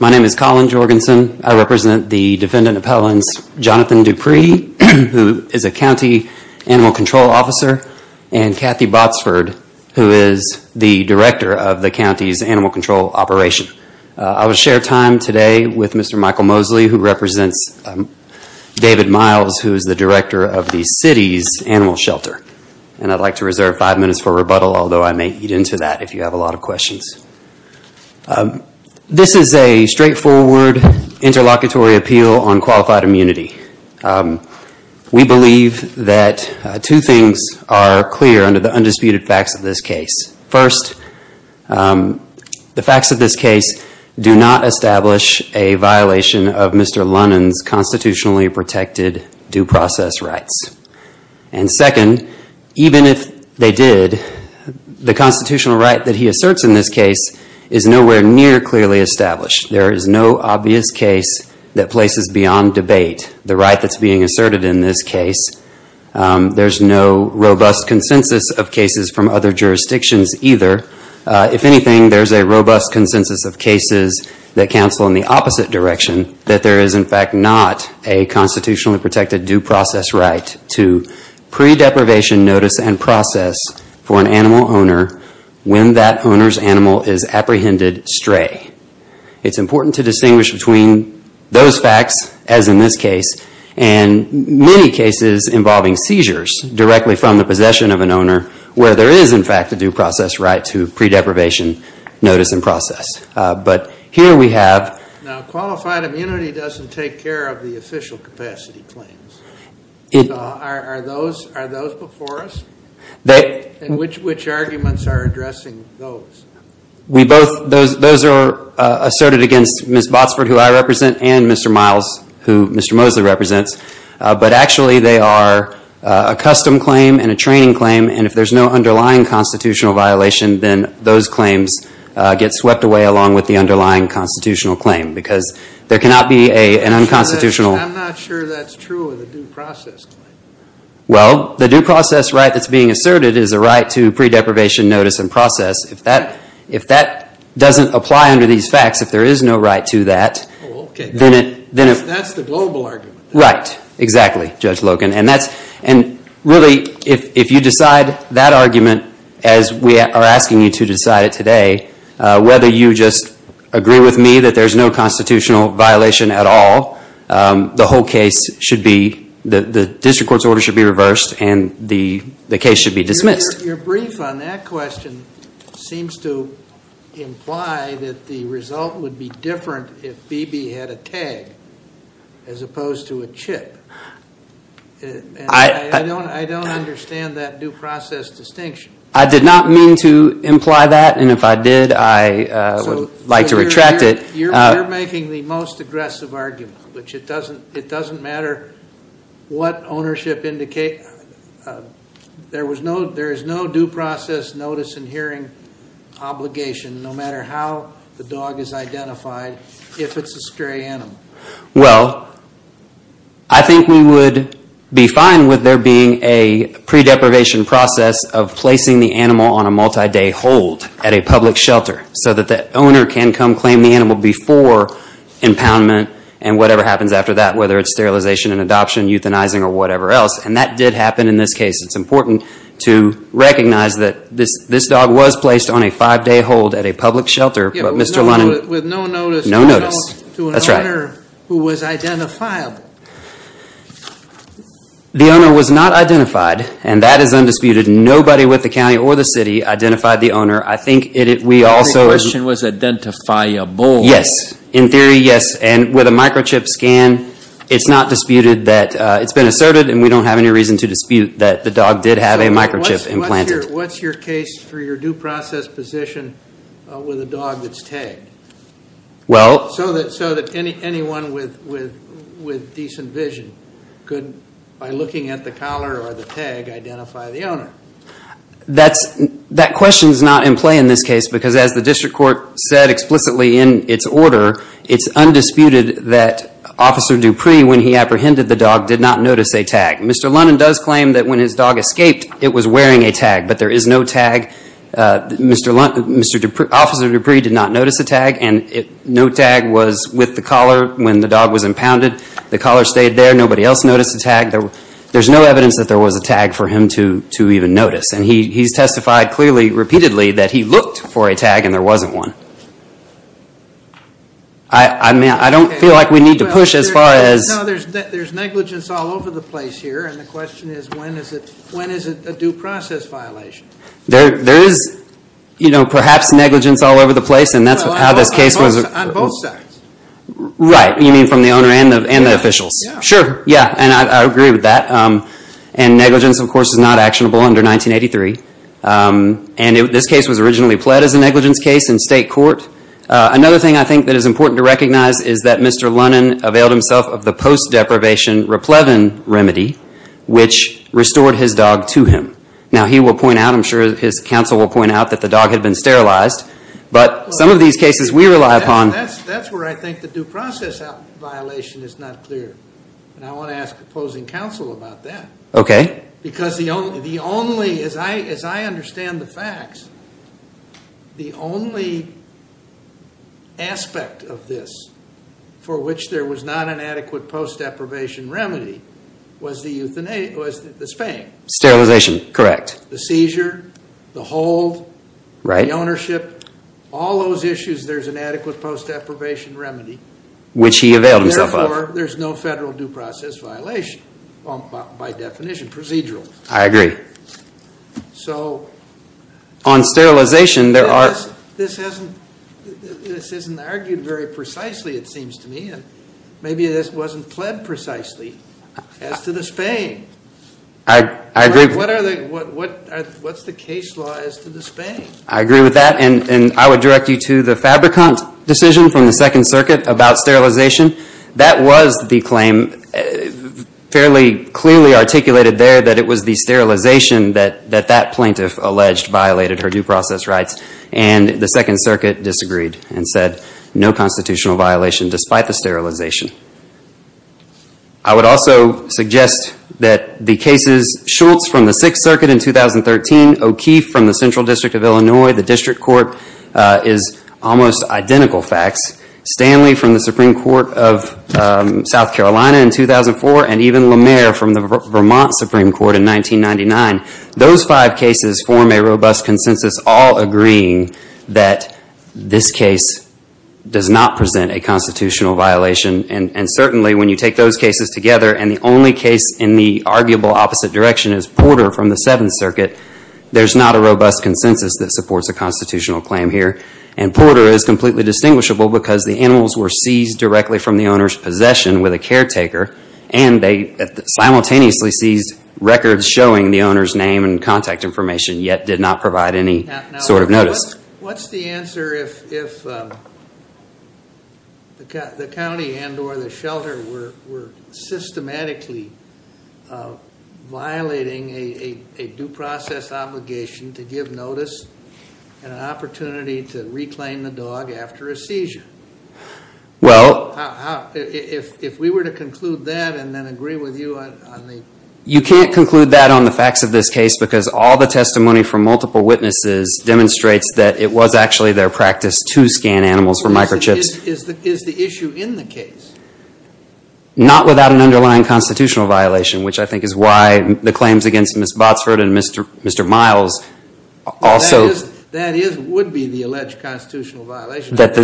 My name is Colin Jorgensen. I represent the Defendant Appellants Jonathan Dupree, who is a County Animal Control Officer, and Kathy Botsford, who is the Director of the County's Animal Control Operation. I will share time today with Mr. Michael Mosley, who represents David Miles, who is the Director of the City's Animal Shelter. I'd like to reserve five minutes for rebuttal, although I may eat into that if you have a lot of questions. This is a straightforward interlocutory appeal on qualified immunity. We believe that two things are clear under the undisputed facts of this case. First, the facts of this case do not establish a violation of Mr. Lunon's constitutionally protected due process rights. Second, even if they did, the constitutional right that he asserts in this case is nowhere near clearly established. There is no obvious case that places beyond debate the right that is being asserted in this case. There is no robust consensus of cases from other jurisdictions either. If anything, there is a robust consensus of cases that counsel in the opposite direction, that there is in fact not a constitutionally protected due process right to pre-deprivation notice and process for an animal owner when that owner's animal is apprehended stray. It's important to distinguish between those facts, as in this case, and many cases involving seizures directly from the possession of an owner where there is in fact a due process right to pre-deprivation notice and process. Now qualified immunity doesn't take care of the official capacity claims. Are those before us? Which arguments are addressing those? Those are asserted against Ms. Botsford, who I represent, and Mr. Miles, who Mr. Mosley represents, but actually they are a custom claim and a training claim. If there is no underlying constitutional violation, then those claims get swept away along with the underlying constitutional claim, because there cannot be an unconstitutional... I'm not sure that's true of the due process claim. Well, the due process right that's being asserted is a right to pre-deprivation notice and process. If that doesn't apply under these facts, if there is no right to that... Oh, okay. That's the global argument. Right. Exactly, Judge Logan. And really, if you decide that argument as we are asking you to decide it today, whether you just agree with me that there's no constitutional violation at all, the whole case should be... the district court's order should be reversed and the case should be dismissed. Your brief on that question seems to imply that the result would be different if B.B. had a tag as opposed to a chip. I don't understand that due process distinction. I did not mean to imply that, and if I did, I would like to retract it. You're making the most aggressive argument, which it doesn't matter what ownership indicates. There is no due process notice and hearing obligation, no matter how the dog is identified, if it's a stray animal. Well, I think we would be fine with there being a pre-deprivation process of placing the animal on a multi-day hold at a public shelter so that the owner can come claim the animal before impoundment and whatever happens after that, whether it's sterilization and adoption, euthanizing, or whatever else. And that did happen in this case. It's important to recognize that this dog was placed on a five-day hold at a public shelter, but Mr. Reynolds, to an owner who was identifiable. The owner was not identified, and that is undisputed. Nobody with the county or the city identified the owner. I think we also... Your question was identifiable. Yes. In theory, yes. And with a microchip scan, it's been asserted and we don't have any reason to dispute that the dog did have a microchip implanted. What's your case for your due process position with a dog that's tagged? Well... So that anyone with decent vision could, by looking at the collar or the tag, identify the owner. That question is not in play in this case, because as the district court said explicitly in its order, it's undisputed that Officer Dupree, when he apprehended the dog, did not notice a tag. Mr. Lunden does claim that when his dog escaped, it was wearing a tag, but there is no tag. Officer Dupree did not notice a tag, and no tag was with the collar when the dog was impounded. The collar stayed there. Nobody else noticed a tag. There's no evidence that there was a tag for him to even notice. And he's testified clearly, repeatedly, that he looked for a tag and there wasn't one. I don't feel like we need to push as far as... No, there's negligence all over the place here, and the question is, when is it a due process violation? There is, you know, perhaps negligence all over the place, and that's how this case was... On both sides. Right, you mean from the owner and the officials? Yeah. Sure, yeah, and I agree with that. And negligence, of course, is not actionable under 1983. And this case was originally pled as a negligence case in state court. Another thing I think that is important to recognize is that Mr. Lunden availed himself of the post-deprivation remedy, which restored his dog to him. Now, he will point out, I'm sure his counsel will point out, that the dog had been sterilized, but some of these cases we rely upon... Well, that's where I think the due process violation is not clear. And I want to ask opposing counsel about that. Okay. Because the only, as I understand the facts, the only aspect of this for which there was not an adequate post-deprivation remedy was the spaying. Sterilization, correct. The seizure, the hold, the ownership, all those issues, there's an adequate post-deprivation remedy. Which he availed himself of. Therefore, there's no federal due process violation, by definition, procedural. I agree. So... On sterilization, there are... This isn't argued very precisely, it seems to me, and maybe this wasn't pled precisely as to the spaying. I agree. What are the... What's the case law as to the spaying? I agree with that. And I would direct you to the Fabricant decision from the Second Circuit about sterilization. That was the claim fairly clearly articulated there that it was the sterilization that that plaintiff alleged violated her due process rights. And the Second Circuit disagreed and said no constitutional violation despite the sterilization. I would also suggest that the cases Schultz from the Sixth Circuit in 2013, O'Keefe from the Central District of Illinois, the District Court is almost identical facts. Stanley from the Supreme Court of South Carolina in 2004, and even Lemare from the Vermont Supreme Court in 1999. Those five cases form a robust consensus, all agreeing that this case does not present a constitutional violation. And certainly when you take those cases together, and the only case in the arguable opposite direction is Porter from the Seventh Circuit, there's not a robust consensus that supports a constitutional claim here. And Porter is completely distinguishable because the animals were seized directly from the owner's possession with a caretaker. And they simultaneously seized records showing the owner's name and contact information, yet did not provide any sort of notice. What's the answer if the county and or the shelter were systematically violating a due process obligation to give notice and an opportunity to reclaim the dog after a seizure? Well, How, if we were to conclude that and then agree with you on the You can't conclude that on the facts of this case because all the testimony from multiple witnesses demonstrates that it was actually their practice to scan animals for microchips. Is the issue in the case? Not without an underlying constitutional violation, which I think is why the claims against Ms. Botsford and Mr. Miles also That is, would be the alleged constitutional violation. Right.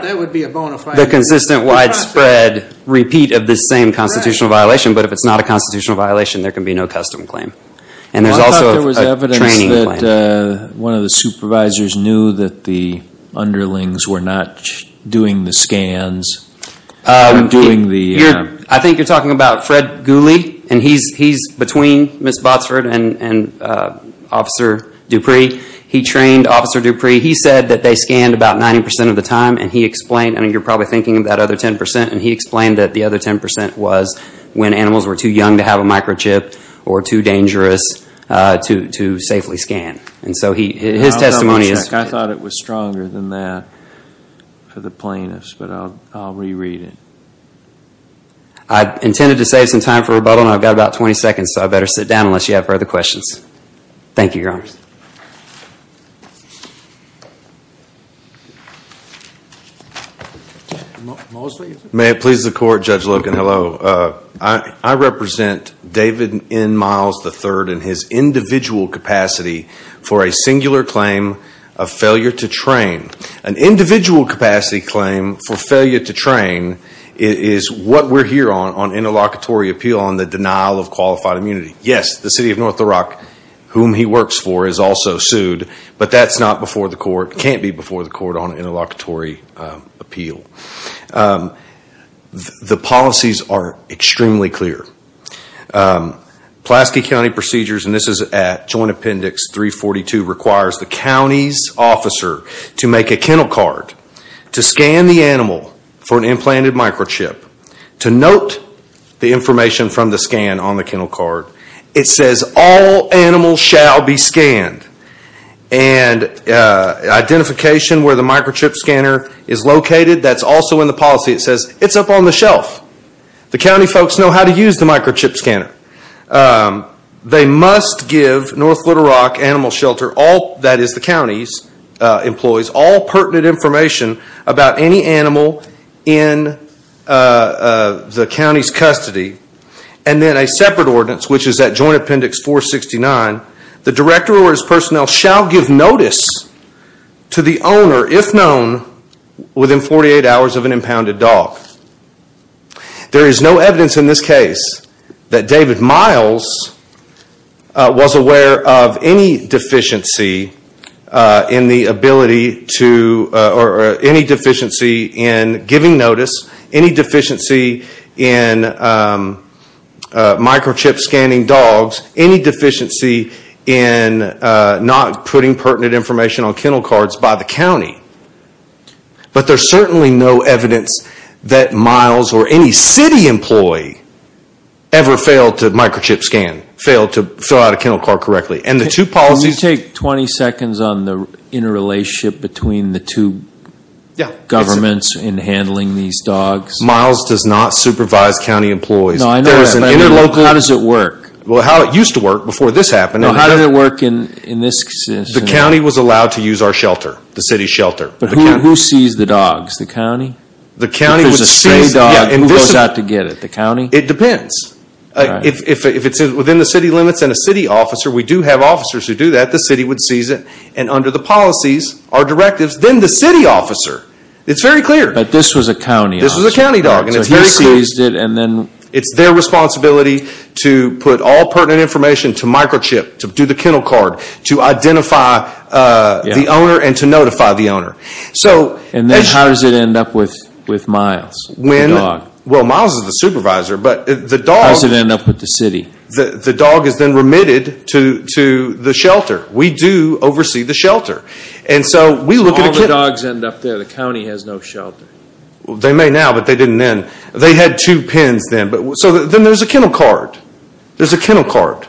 That would be a bona fide The consistent widespread repeat of the same constitutional violation. But if it's not a constitutional violation, there can be no custom claim. And there's also I thought there was evidence that one of the supervisors knew that the underlings were not doing the scans, doing the I think you're talking about Fred Gooley and he's between Ms. Botsford and Officer Dupree. He trained Officer Dupree. He said that they scanned about 90 percent of the time and he explained I mean, you're probably thinking of that other 10 percent. And he explained that the other 10 percent was when animals were too young to have a microchip or too dangerous to to safely scan. And so he his testimony is I thought it was stronger than that for the plaintiffs, but I'll reread it. I intended to save some time for rebuttal, and I've got about 20 seconds, so I better sit down unless you have further questions. Thank you, Your Honor. May it please the court. Judge Logan, hello. I represent David N. Miles III and his individual capacity for a singular claim of failure to train. An individual capacity claim for failure to train is what we're here on, on interlocutory appeal on the denial of qualified immunity. Yes, the city of North Iraq, whom he works for, is also sued, but that's not before the court, can't be before the court on interlocutory appeal. The policies are extremely clear. Pulaski County Procedures, and this is at Joint Appendix 342, requires the county's officer to make a kennel card, to scan the animal for an implanted microchip, to note the information from the scan on the kennel card. It says, all animals shall be scanned, and identification where the microchip scanner is located, that's also in the policy. It says, it's up on the shelf. The county folks know how to use the microchip scanner. They must give North Little Rock Animal Shelter, all, that is the county's employees, all pertinent information about any animal in the county's custody, and then a separate ordinance, which is at Joint Appendix 469, the director or his personnel shall give notice to the owner, if known, within 48 hours of an impounded dog. There is no evidence in this case that David Miles was aware of any deficiency in giving notice, any deficiency in microchip scanning dogs, any deficiency in not putting pertinent information on kennel cards by the county. But there's certainly no evidence that Miles, or any city employee, ever failed to microchip scan, failed to fill out a kennel card correctly. And the two policies... Can you take 20 seconds on the interrelationship between the two governments in handling these dogs? Miles does not supervise county employees. No, I know that. How does it work? Well, how it used to work before this happened. How did it work in this case? The county was allowed to use our shelter, the city's shelter. But who sees the dogs? The county? The county would seize... If it's a stray dog, who goes out to get it? The county? It depends. If it's within the city limits and a city officer, we do have officers who do that, the city would seize it. And under the policies, our directives, then the city officer. It's very clear. But this was a county officer. This was a county dog. So he seized it and then... It's their responsibility to put all pertinent information to microchip, to do the kennel card, to identify the owner and to notify the owner. And then how does it end up with Miles, the dog? Well, Miles is the supervisor, but the dog... How does it end up with the city? The dog is then remitted to the shelter. We do oversee the shelter. And so we look at a kennel... All the dogs end up there. The county has no shelter. They may now, but they didn't then. They had two pens then. So then there's a kennel card. There's a kennel card.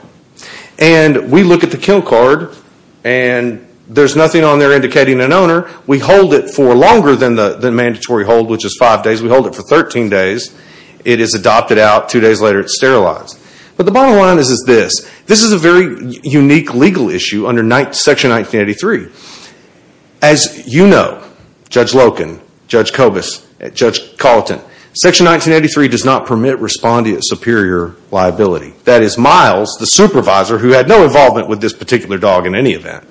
And we look at the kennel card and there's nothing on there indicating an owner. We hold it for longer than the mandatory hold, which is five days. We hold it for 13 days. It is adopted out. Two days later, it's sterilized. But the bottom line is this. This is a very unique legal issue under Section 1983. As you know, Judge Loken, Judge Cobus, Judge Colleton, Section 1983 does not permit respondeant superior liability. That is Miles, the supervisor who had no involvement with this particular dog in any event,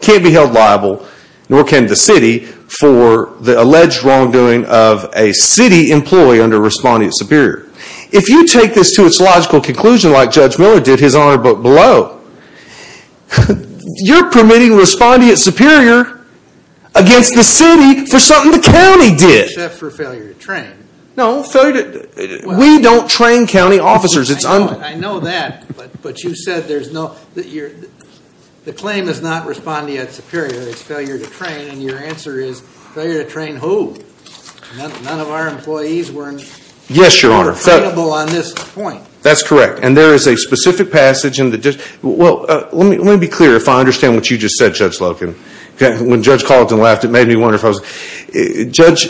can't be held liable, nor can the city, for the alleged wrongdoing of a city employee under respondeant superior. If you take this to its logical conclusion like Judge Miller did, his honor book below, you're permitting respondeant superior against the city for something the county did. Except for failure to train. No, we don't train county officers. I know that, but you said the claim is not respondeant superior. It's failure to train. And your answer is failure to train who? None of our employees were liable on this point. That's correct. And there is a specific passage in the... Well, let me be clear if I understand what you just said, Judge Loken. When Judge Colleton laughed, it made me wonder if I was... Judge,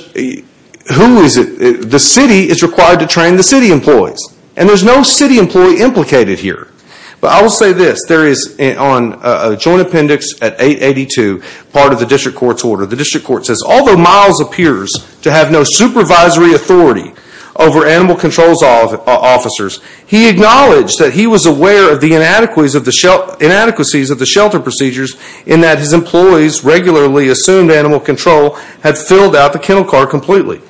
who is it? The city is required to train the city employees. And there's no city employee implicated here. But I will say this. There is on a joint appendix at 882, part of the district court's order. The district court says, although Miles appears to have no supervisory authority over animal controls officers, he acknowledged that he was aware of the inadequacies of the shelter procedures in that his employees regularly assumed animal control had filled out the kennel car completely.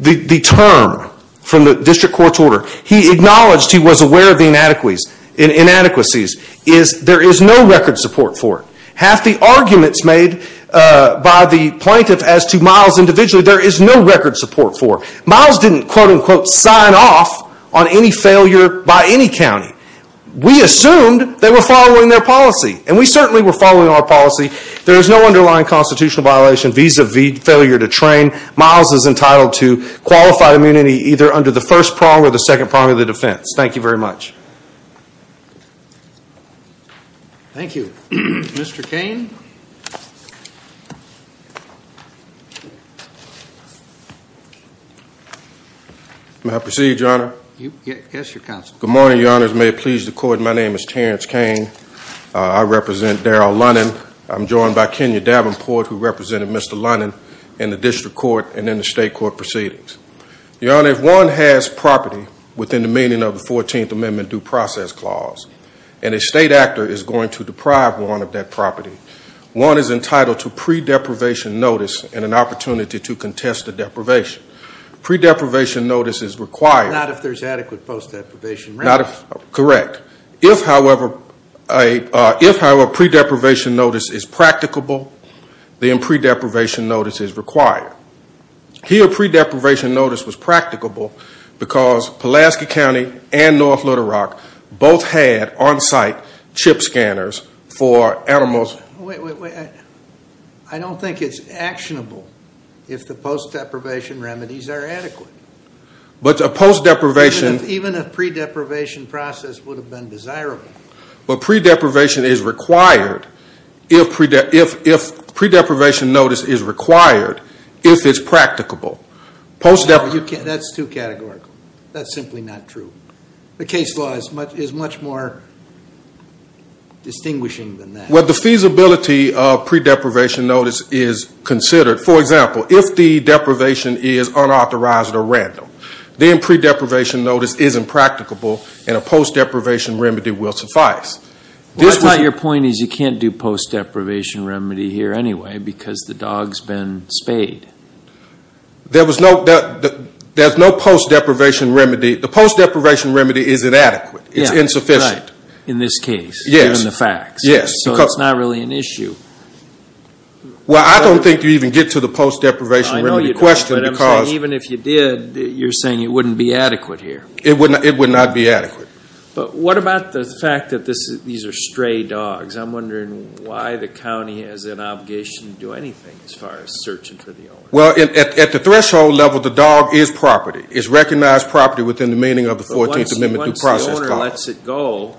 The term from the district court's order, he acknowledged he was aware of the inadequacies, is there is no record support for it. Half the arguments made by the plaintiff as to Miles individually, there is no record support for it. Miles didn't, quote unquote, sign off on any failure by any county. We assumed they were following their policy. And we certainly were following our policy. There is no underlying constitutional violation vis-a-vis failure to train. Miles is entitled to qualified immunity either under the first prong or the second prong of the defense. Thank you very much. Thank you. Mr. Kane. May I proceed, your honor? Yes, your counsel. Good morning, your honors. May it please the court. My name is Terrence Kane. I represent Daryl Lunnan. I'm joined by Kenya Davenport, who represented Mr. Lunnan in the district court. And then the state court proceedings. Your honor, if one has property within the meaning of the 14th Amendment due process clause, and a state actor is going to deprive one of that property, one is entitled to pre-deprivation notice and an opportunity to contest the deprivation. Pre-deprivation notice is required. Not if there's adequate post-deprivation. Not if, correct. If, however, a pre-deprivation notice is practicable, then pre-deprivation notice is required. Here, pre-deprivation notice was practicable because Pulaski County and North Little Rock both had on-site chip scanners for animals. I don't think it's actionable if the post-deprivation remedies are adequate. But a post-deprivation- Even a pre-deprivation process would have been desirable. But pre-deprivation is required if pre-deprivation notice is required, if it's practicable. That's too categorical. That's simply not true. The case law is much more distinguishing than that. Well, the feasibility of pre-deprivation notice is considered. For example, if the deprivation is unauthorized or random, then pre-deprivation notice isn't practicable, and a post-deprivation remedy will suffice. Well, I thought your point is you can't do post-deprivation remedy here anyway because the dog's been spayed. There's no post-deprivation remedy. The post-deprivation remedy is inadequate. It's insufficient. In this case, given the facts. Yes. So it's not really an issue. Well, I don't think you even get to the post-deprivation remedy question because- I know you don't, but I'm saying even if you did, you're saying it wouldn't be adequate here. It would not be adequate. But what about the fact that these are stray dogs? I'm wondering why the county has an obligation to do anything as far as searching for the owner. Well, at the threshold level, the dog is property. It's recognized property within the meaning of the 14th Amendment due process clause. But once the owner lets it go-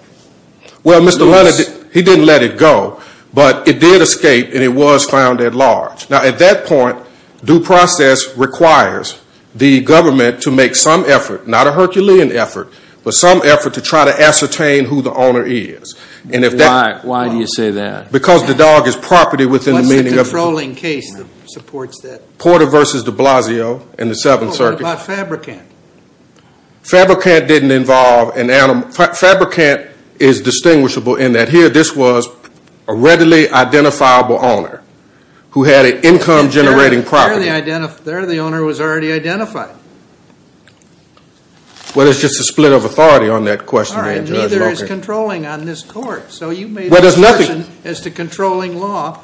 Well, Mr. Leonard, he didn't let it go, but it did escape, and it was found at large. Now, at that point, due process requires the government to make some effort, not a Herculean effort, but some effort to try to ascertain who the owner is. Why do you say that? Because the dog is property within the meaning of- What's the controlling case that supports that? Porter v. de Blasio in the 7th Circuit. What about Fabricant? Fabricant didn't involve an animal. Fabricant is distinguishable in that here, this was a readily identifiable owner who had an income-generating property. There, the owner was already identified. Well, it's just a split of authority on that question. All right, neither is controlling on this court. So you made an assertion as to controlling law,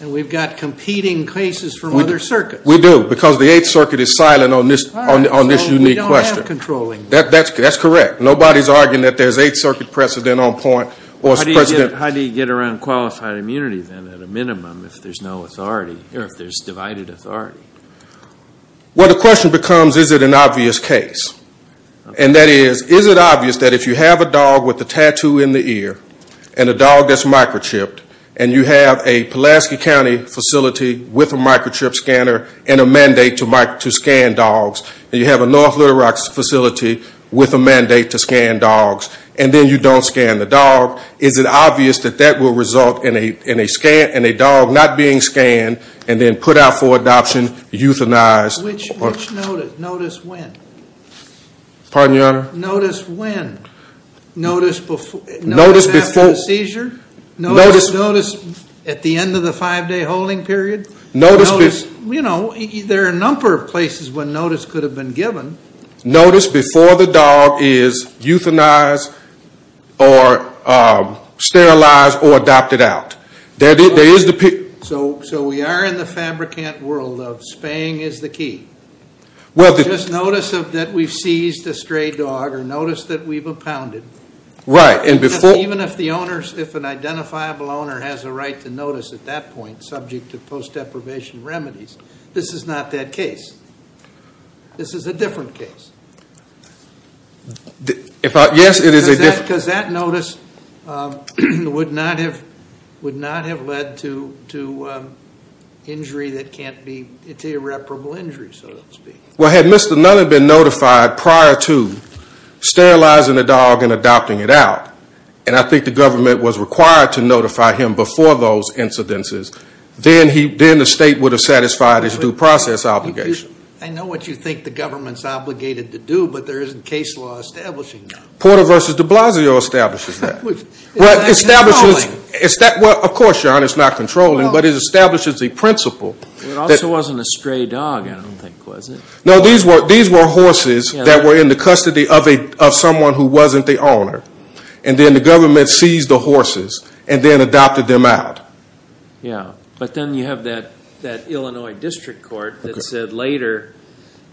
and we've got competing cases from other circuits. We do, because the 8th Circuit is silent on this unique question. We don't have controlling. That's correct. Nobody's arguing that there's 8th Circuit precedent on point or precedent- How do you get around qualified immunity then, at a minimum, if there's no authority, or if there's divided authority? Well, the question becomes, is it an obvious case? And that is, is it obvious that if you have a dog with a tattoo in the ear, and a dog that's microchipped, and you have a Pulaski County facility with a microchip scanner, and a mandate to scan dogs, and you have a North Little Rock facility with a mandate to scan dogs, and then you don't scan the dog, is it obvious that that will result in a dog not being scanned, and then put out for adoption, euthanized- Which notice? Notice when? Pardon, Your Honor? Notice when? Notice after the seizure? Notice at the end of the five-day holding period? There are a number of places where notice could have been given. Notice before the dog is euthanized, or sterilized, or adopted out. So we are in the fabricant world of spaying is the key. Just notice that we've seized a stray dog, or notice that we've impounded. Right, and before- Even if an identifiable owner has a right to notice at that point, subject to post-deprivation remedies, this is not that case. This is a different case. Yes, it is a different- Because that notice would not have led to injury that can't be, it's irreparable injury, so to speak. Well, had Mr. Nunn been notified prior to sterilizing the dog and adopting it out, and I think the government was required to notify him before those incidences, then the state would have satisfied his due process obligation. I know what you think the government's obligated to do, but there isn't case law establishing that. Porter v. de Blasio establishes that. Which is not controlling. Well, of course, Your Honor, it's not controlling, but it establishes the principle- It also wasn't a stray dog, I don't think, was it? No, these were horses that were in the custody of someone who wasn't the owner, and then the government seized the horses, and then adopted them out. Yeah, but then you have that Illinois District Court that said later,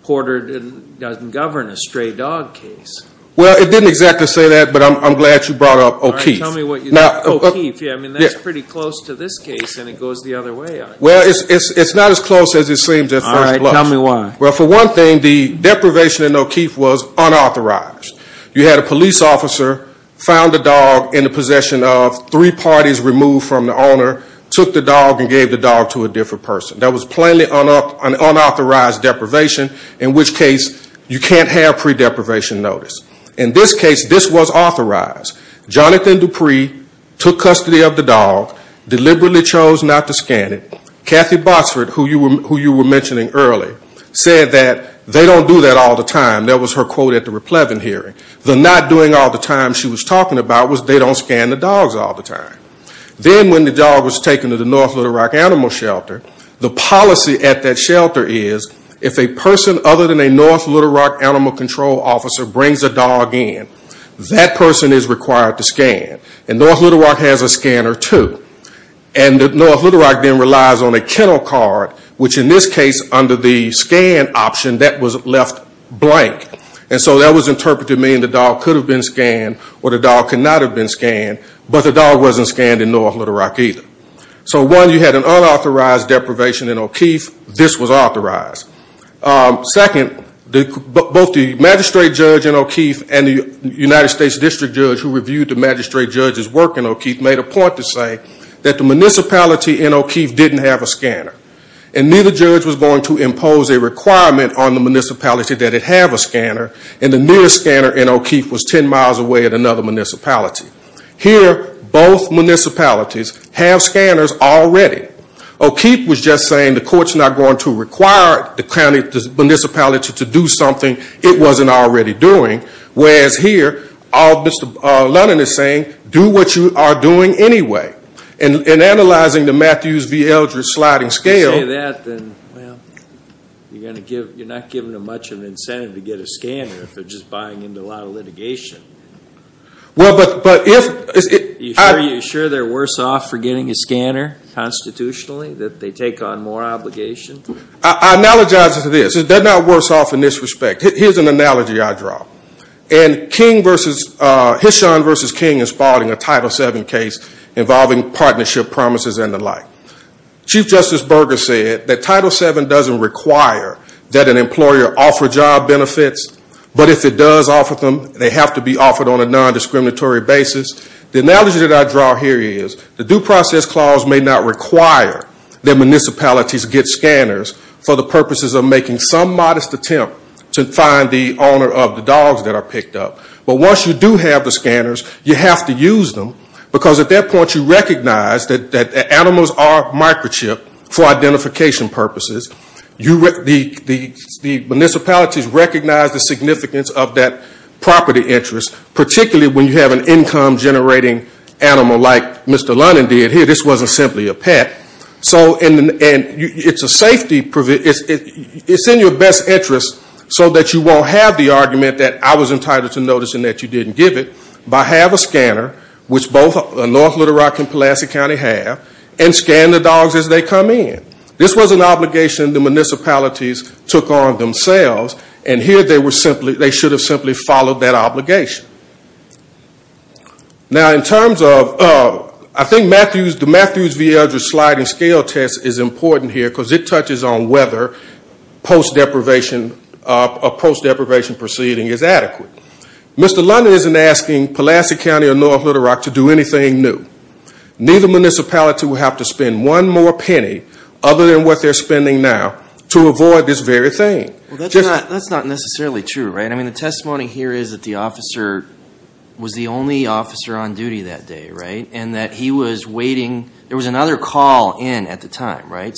Porter doesn't govern a stray dog case. Well, it didn't exactly say that, but I'm glad you brought up O'Keeffe. All right, tell me what you think of O'Keeffe. I mean, that's pretty close to this case, and it goes the other way. Well, it's not as close as it seems at first glance. All right, tell me why. Well, for one thing, the deprivation in O'Keeffe was unauthorized. You had a police officer found the dog in the possession of three parties removed from the owner, took the dog, and gave the dog to a different person. That was plainly an unauthorized deprivation, in which case, you can't have pre-deprivation notice. In this case, this was authorized. Jonathan Dupree took custody of the dog, deliberately chose not to scan it. Kathy Botsford, who you were mentioning earlier, said that they don't do that all the time. That was her quote at the Raplevin hearing. The not doing all the time she was talking about was they don't scan the dogs all the time. Then when the dog was taken to the North Little Rock Animal Shelter, the policy at that shelter is if a person other than a North Little Rock animal control officer brings a dog in, that person is required to scan. And North Little Rock has a scanner, too. And North Little Rock then relies on a kennel card, which in this case, under the scan option, that was left blank. And so that was interpreted to mean the dog could have been scanned, or the dog could not have been scanned. But the dog wasn't scanned in North Little Rock, either. So one, you had an unauthorized deprivation in O'Keeffe. This was authorized. Second, both the magistrate judge in O'Keeffe and the United States district judge who reviewed the magistrate judge's work in O'Keeffe made a point to say that the municipality in O'Keeffe didn't have a scanner. And neither judge was going to impose a requirement on the municipality that it have a scanner. And the nearest scanner in O'Keeffe was 10 miles away at another municipality. Here, both municipalities have scanners already. O'Keeffe was just saying the court's not going to require the municipality to do something it wasn't already doing. Whereas here, all Mr. London is saying, do what you are doing anyway. And analyzing the Matthews v. Eldridge sliding scale- If you say that, then well, you're not giving them much of an incentive to get a scanner if they're just buying into a lot of litigation. Well, but if- Are you sure they're worse off for getting a scanner constitutionally? That they take on more obligations? I analogize it to this. They're not worse off in this respect. Here's an analogy I draw. And King versus- Hishon v. King is filing a Title VII case involving partnership promises and the like. Chief Justice Berger said that Title VII doesn't require that an employer offer job benefits, but if it does offer them, they have to be offered on a non-discriminatory basis. The analogy that I draw here is the due process clause may not require that municipalities get scanners for the purposes of making some modest attempt to find the owner of the dogs that are picked up. But once you do have the scanners, you have to use them because at that point, you recognize that animals are microchipped for identification purposes. The municipalities recognize the significance of that property interest, particularly when you have an income-generating animal like Mr. Lennon did here. This wasn't simply a pet. And it's in your best interest so that you won't have the argument that I was entitled to notice and that you didn't give it, but have a scanner, which both North Little Rock and Pulaski County have, and scan the dogs as they come in. This was an obligation the municipalities took on themselves, Now, in terms of, I think the Matthews v. Eldridge sliding scale test is important here because it touches on whether a post-deprivation proceeding is adequate. Mr. Lennon isn't asking Pulaski County or North Little Rock to do anything new. Neither municipality will have to spend one more penny, other than what they're spending now, to avoid this very thing. Well, that's not necessarily true, right? The testimony here is that the officer was the only officer on duty that day, right? And that he was waiting. There was another call in at the time, right?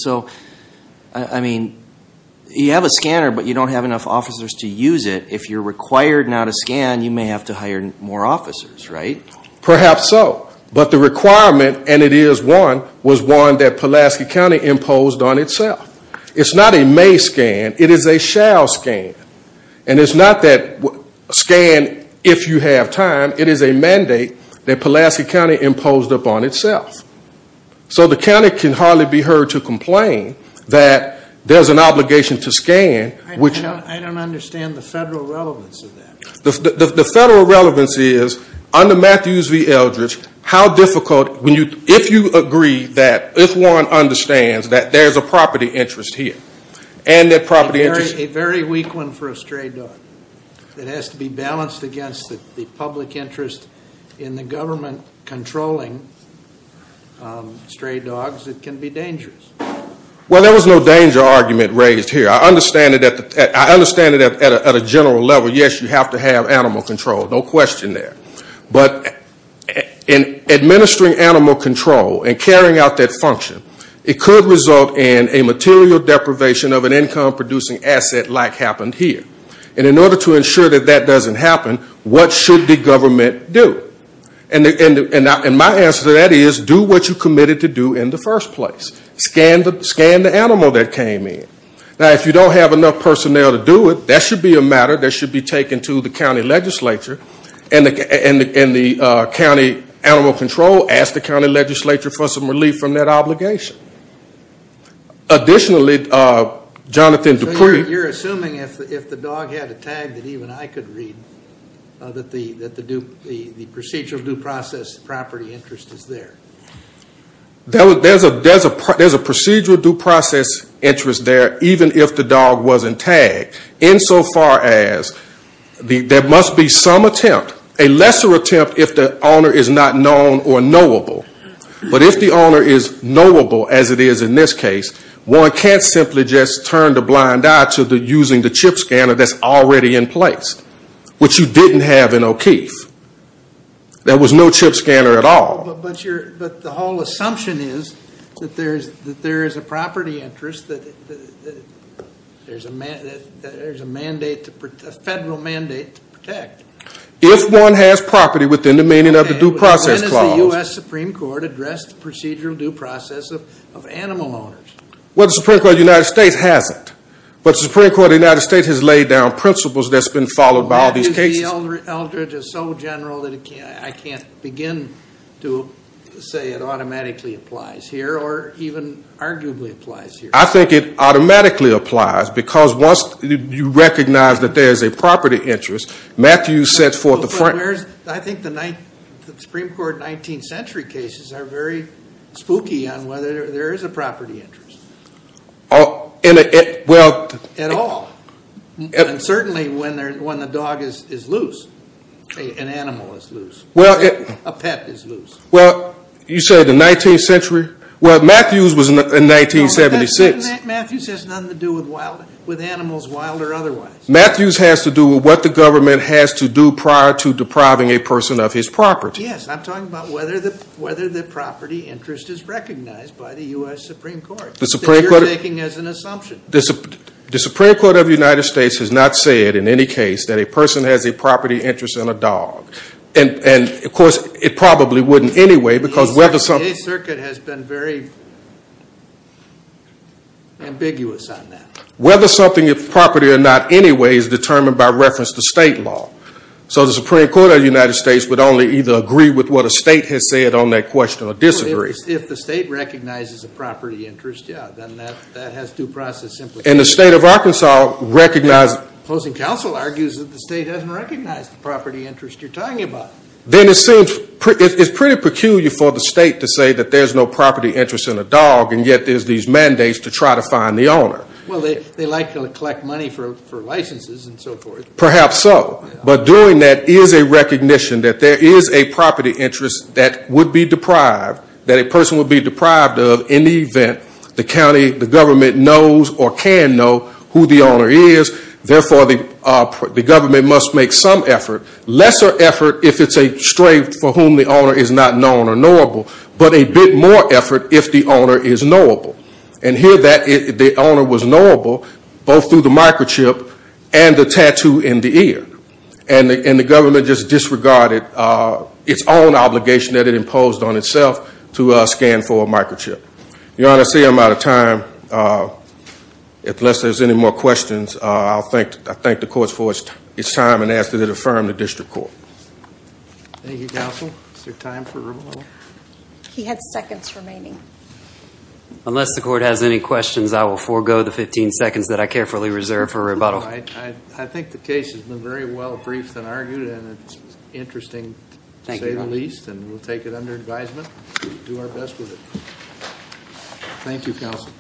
You have a scanner, but you don't have enough officers to use it. If you're required now to scan, you may have to hire more officers, right? Perhaps so. But the requirement, and it is one, was one that Pulaski County imposed on itself. It's not a may scan. It is a shall scan. And it's not that scan if you have time. It is a mandate that Pulaski County imposed upon itself. So the county can hardly be heard to complain that there's an obligation to scan, which I don't understand the federal relevance of that. The federal relevance is, under Matthews v. Eldridge, how difficult, if you agree that, if one understands that there's a property interest here, and that property interest is a very weak one for a stray dog that has to be balanced against the public interest in the government controlling stray dogs, it can be dangerous. Well, there was no danger argument raised here. I understand it at a general level. Yes, you have to have animal control. No question there. But in administering animal control and carrying out that function, it could result in a material deprivation of an income-producing asset like happened here. And in order to ensure that that doesn't happen, what should the government do? And my answer to that is, do what you committed to do in the first place. Scan the animal that came in. Now, if you don't have enough personnel to do it, that should be a matter that should be taken to the county legislature and the county animal control, ask the county legislature for some relief from that obligation. Additionally, Jonathan Dupree... So you're assuming if the dog had a tag that even I could read, that the procedural due process property interest is there? There's a procedural due process interest there, even if the dog wasn't tagged, insofar as there must be some attempt, a lesser attempt if the owner is not known or knowable. But if the owner is knowable, as it is in this case, one can't simply just turn a blind eye to using the chip scanner that's already in place, which you didn't have in O'Keeffe. There was no chip scanner at all. But the whole assumption is that there is a property interest that there's a federal mandate to protect. If one has property within the meaning of the due process clause... The Supreme Court addressed the procedural due process of animal owners. Well, the Supreme Court of the United States hasn't. But the Supreme Court of the United States has laid down principles that's been followed by all these cases. Matthew, the Eldridge is so general that I can't begin to say it automatically applies here or even arguably applies here. I think it automatically applies because once you recognize that there's a property interest, Matthew sets forth the front... I think the Supreme Court 19th century cases are very spooky on whether there is a property interest at all. And certainly when the dog is loose, an animal is loose, a pet is loose. Well, you say the 19th century? Well, Matthews was in 1976. Matthews has nothing to do with animals, wild or otherwise. Matthews has to do with what the government has to do prior to depriving a person of his property. Yes, I'm talking about whether the property interest is recognized by the U.S. Supreme Court, that you're taking as an assumption. The Supreme Court of the United States has not said in any case that a person has a property interest in a dog. And of course, it probably wouldn't anyway because whether something... The circuit has been very ambiguous on that. Whether something is property or not anyway is determined by reference to state law. So the Supreme Court of the United States would only either agree with what a state has said on that question or disagree. If the state recognizes a property interest, yeah, then that has due process implications. And the state of Arkansas recognizes... Closing counsel argues that the state doesn't recognize the property interest you're talking about. Then it seems it's pretty peculiar for the state to say that there's no property interest in a dog and yet there's these mandates to try to find the owner. Well, they like to collect money for licenses and so forth. Perhaps so. But doing that is a recognition that there is a property interest that would be deprived, that a person would be deprived of in the event the county, the government knows or can know who the owner is. Therefore, the government must make some effort, lesser effort if it's a stray for whom the owner is not known or knowable, but a bit more effort if the owner is knowable. And here that the owner was knowable both through the microchip and the tattoo in the ear. And the government just disregarded its own obligation that it imposed on itself to scan for a microchip. Your Honor, I see I'm out of time. Unless there's any more questions, I thank the courts for its time and ask that it affirm the district court. Thank you, counsel. Is there time for rebuttal? He had seconds remaining. Unless the court has any questions, I will forego the 15 seconds that I carefully reserve for rebuttal. I think the case has been very well briefed and argued. And it's interesting to say the least. And we'll take it under advisement. Do our best with it. Thank you, counsel.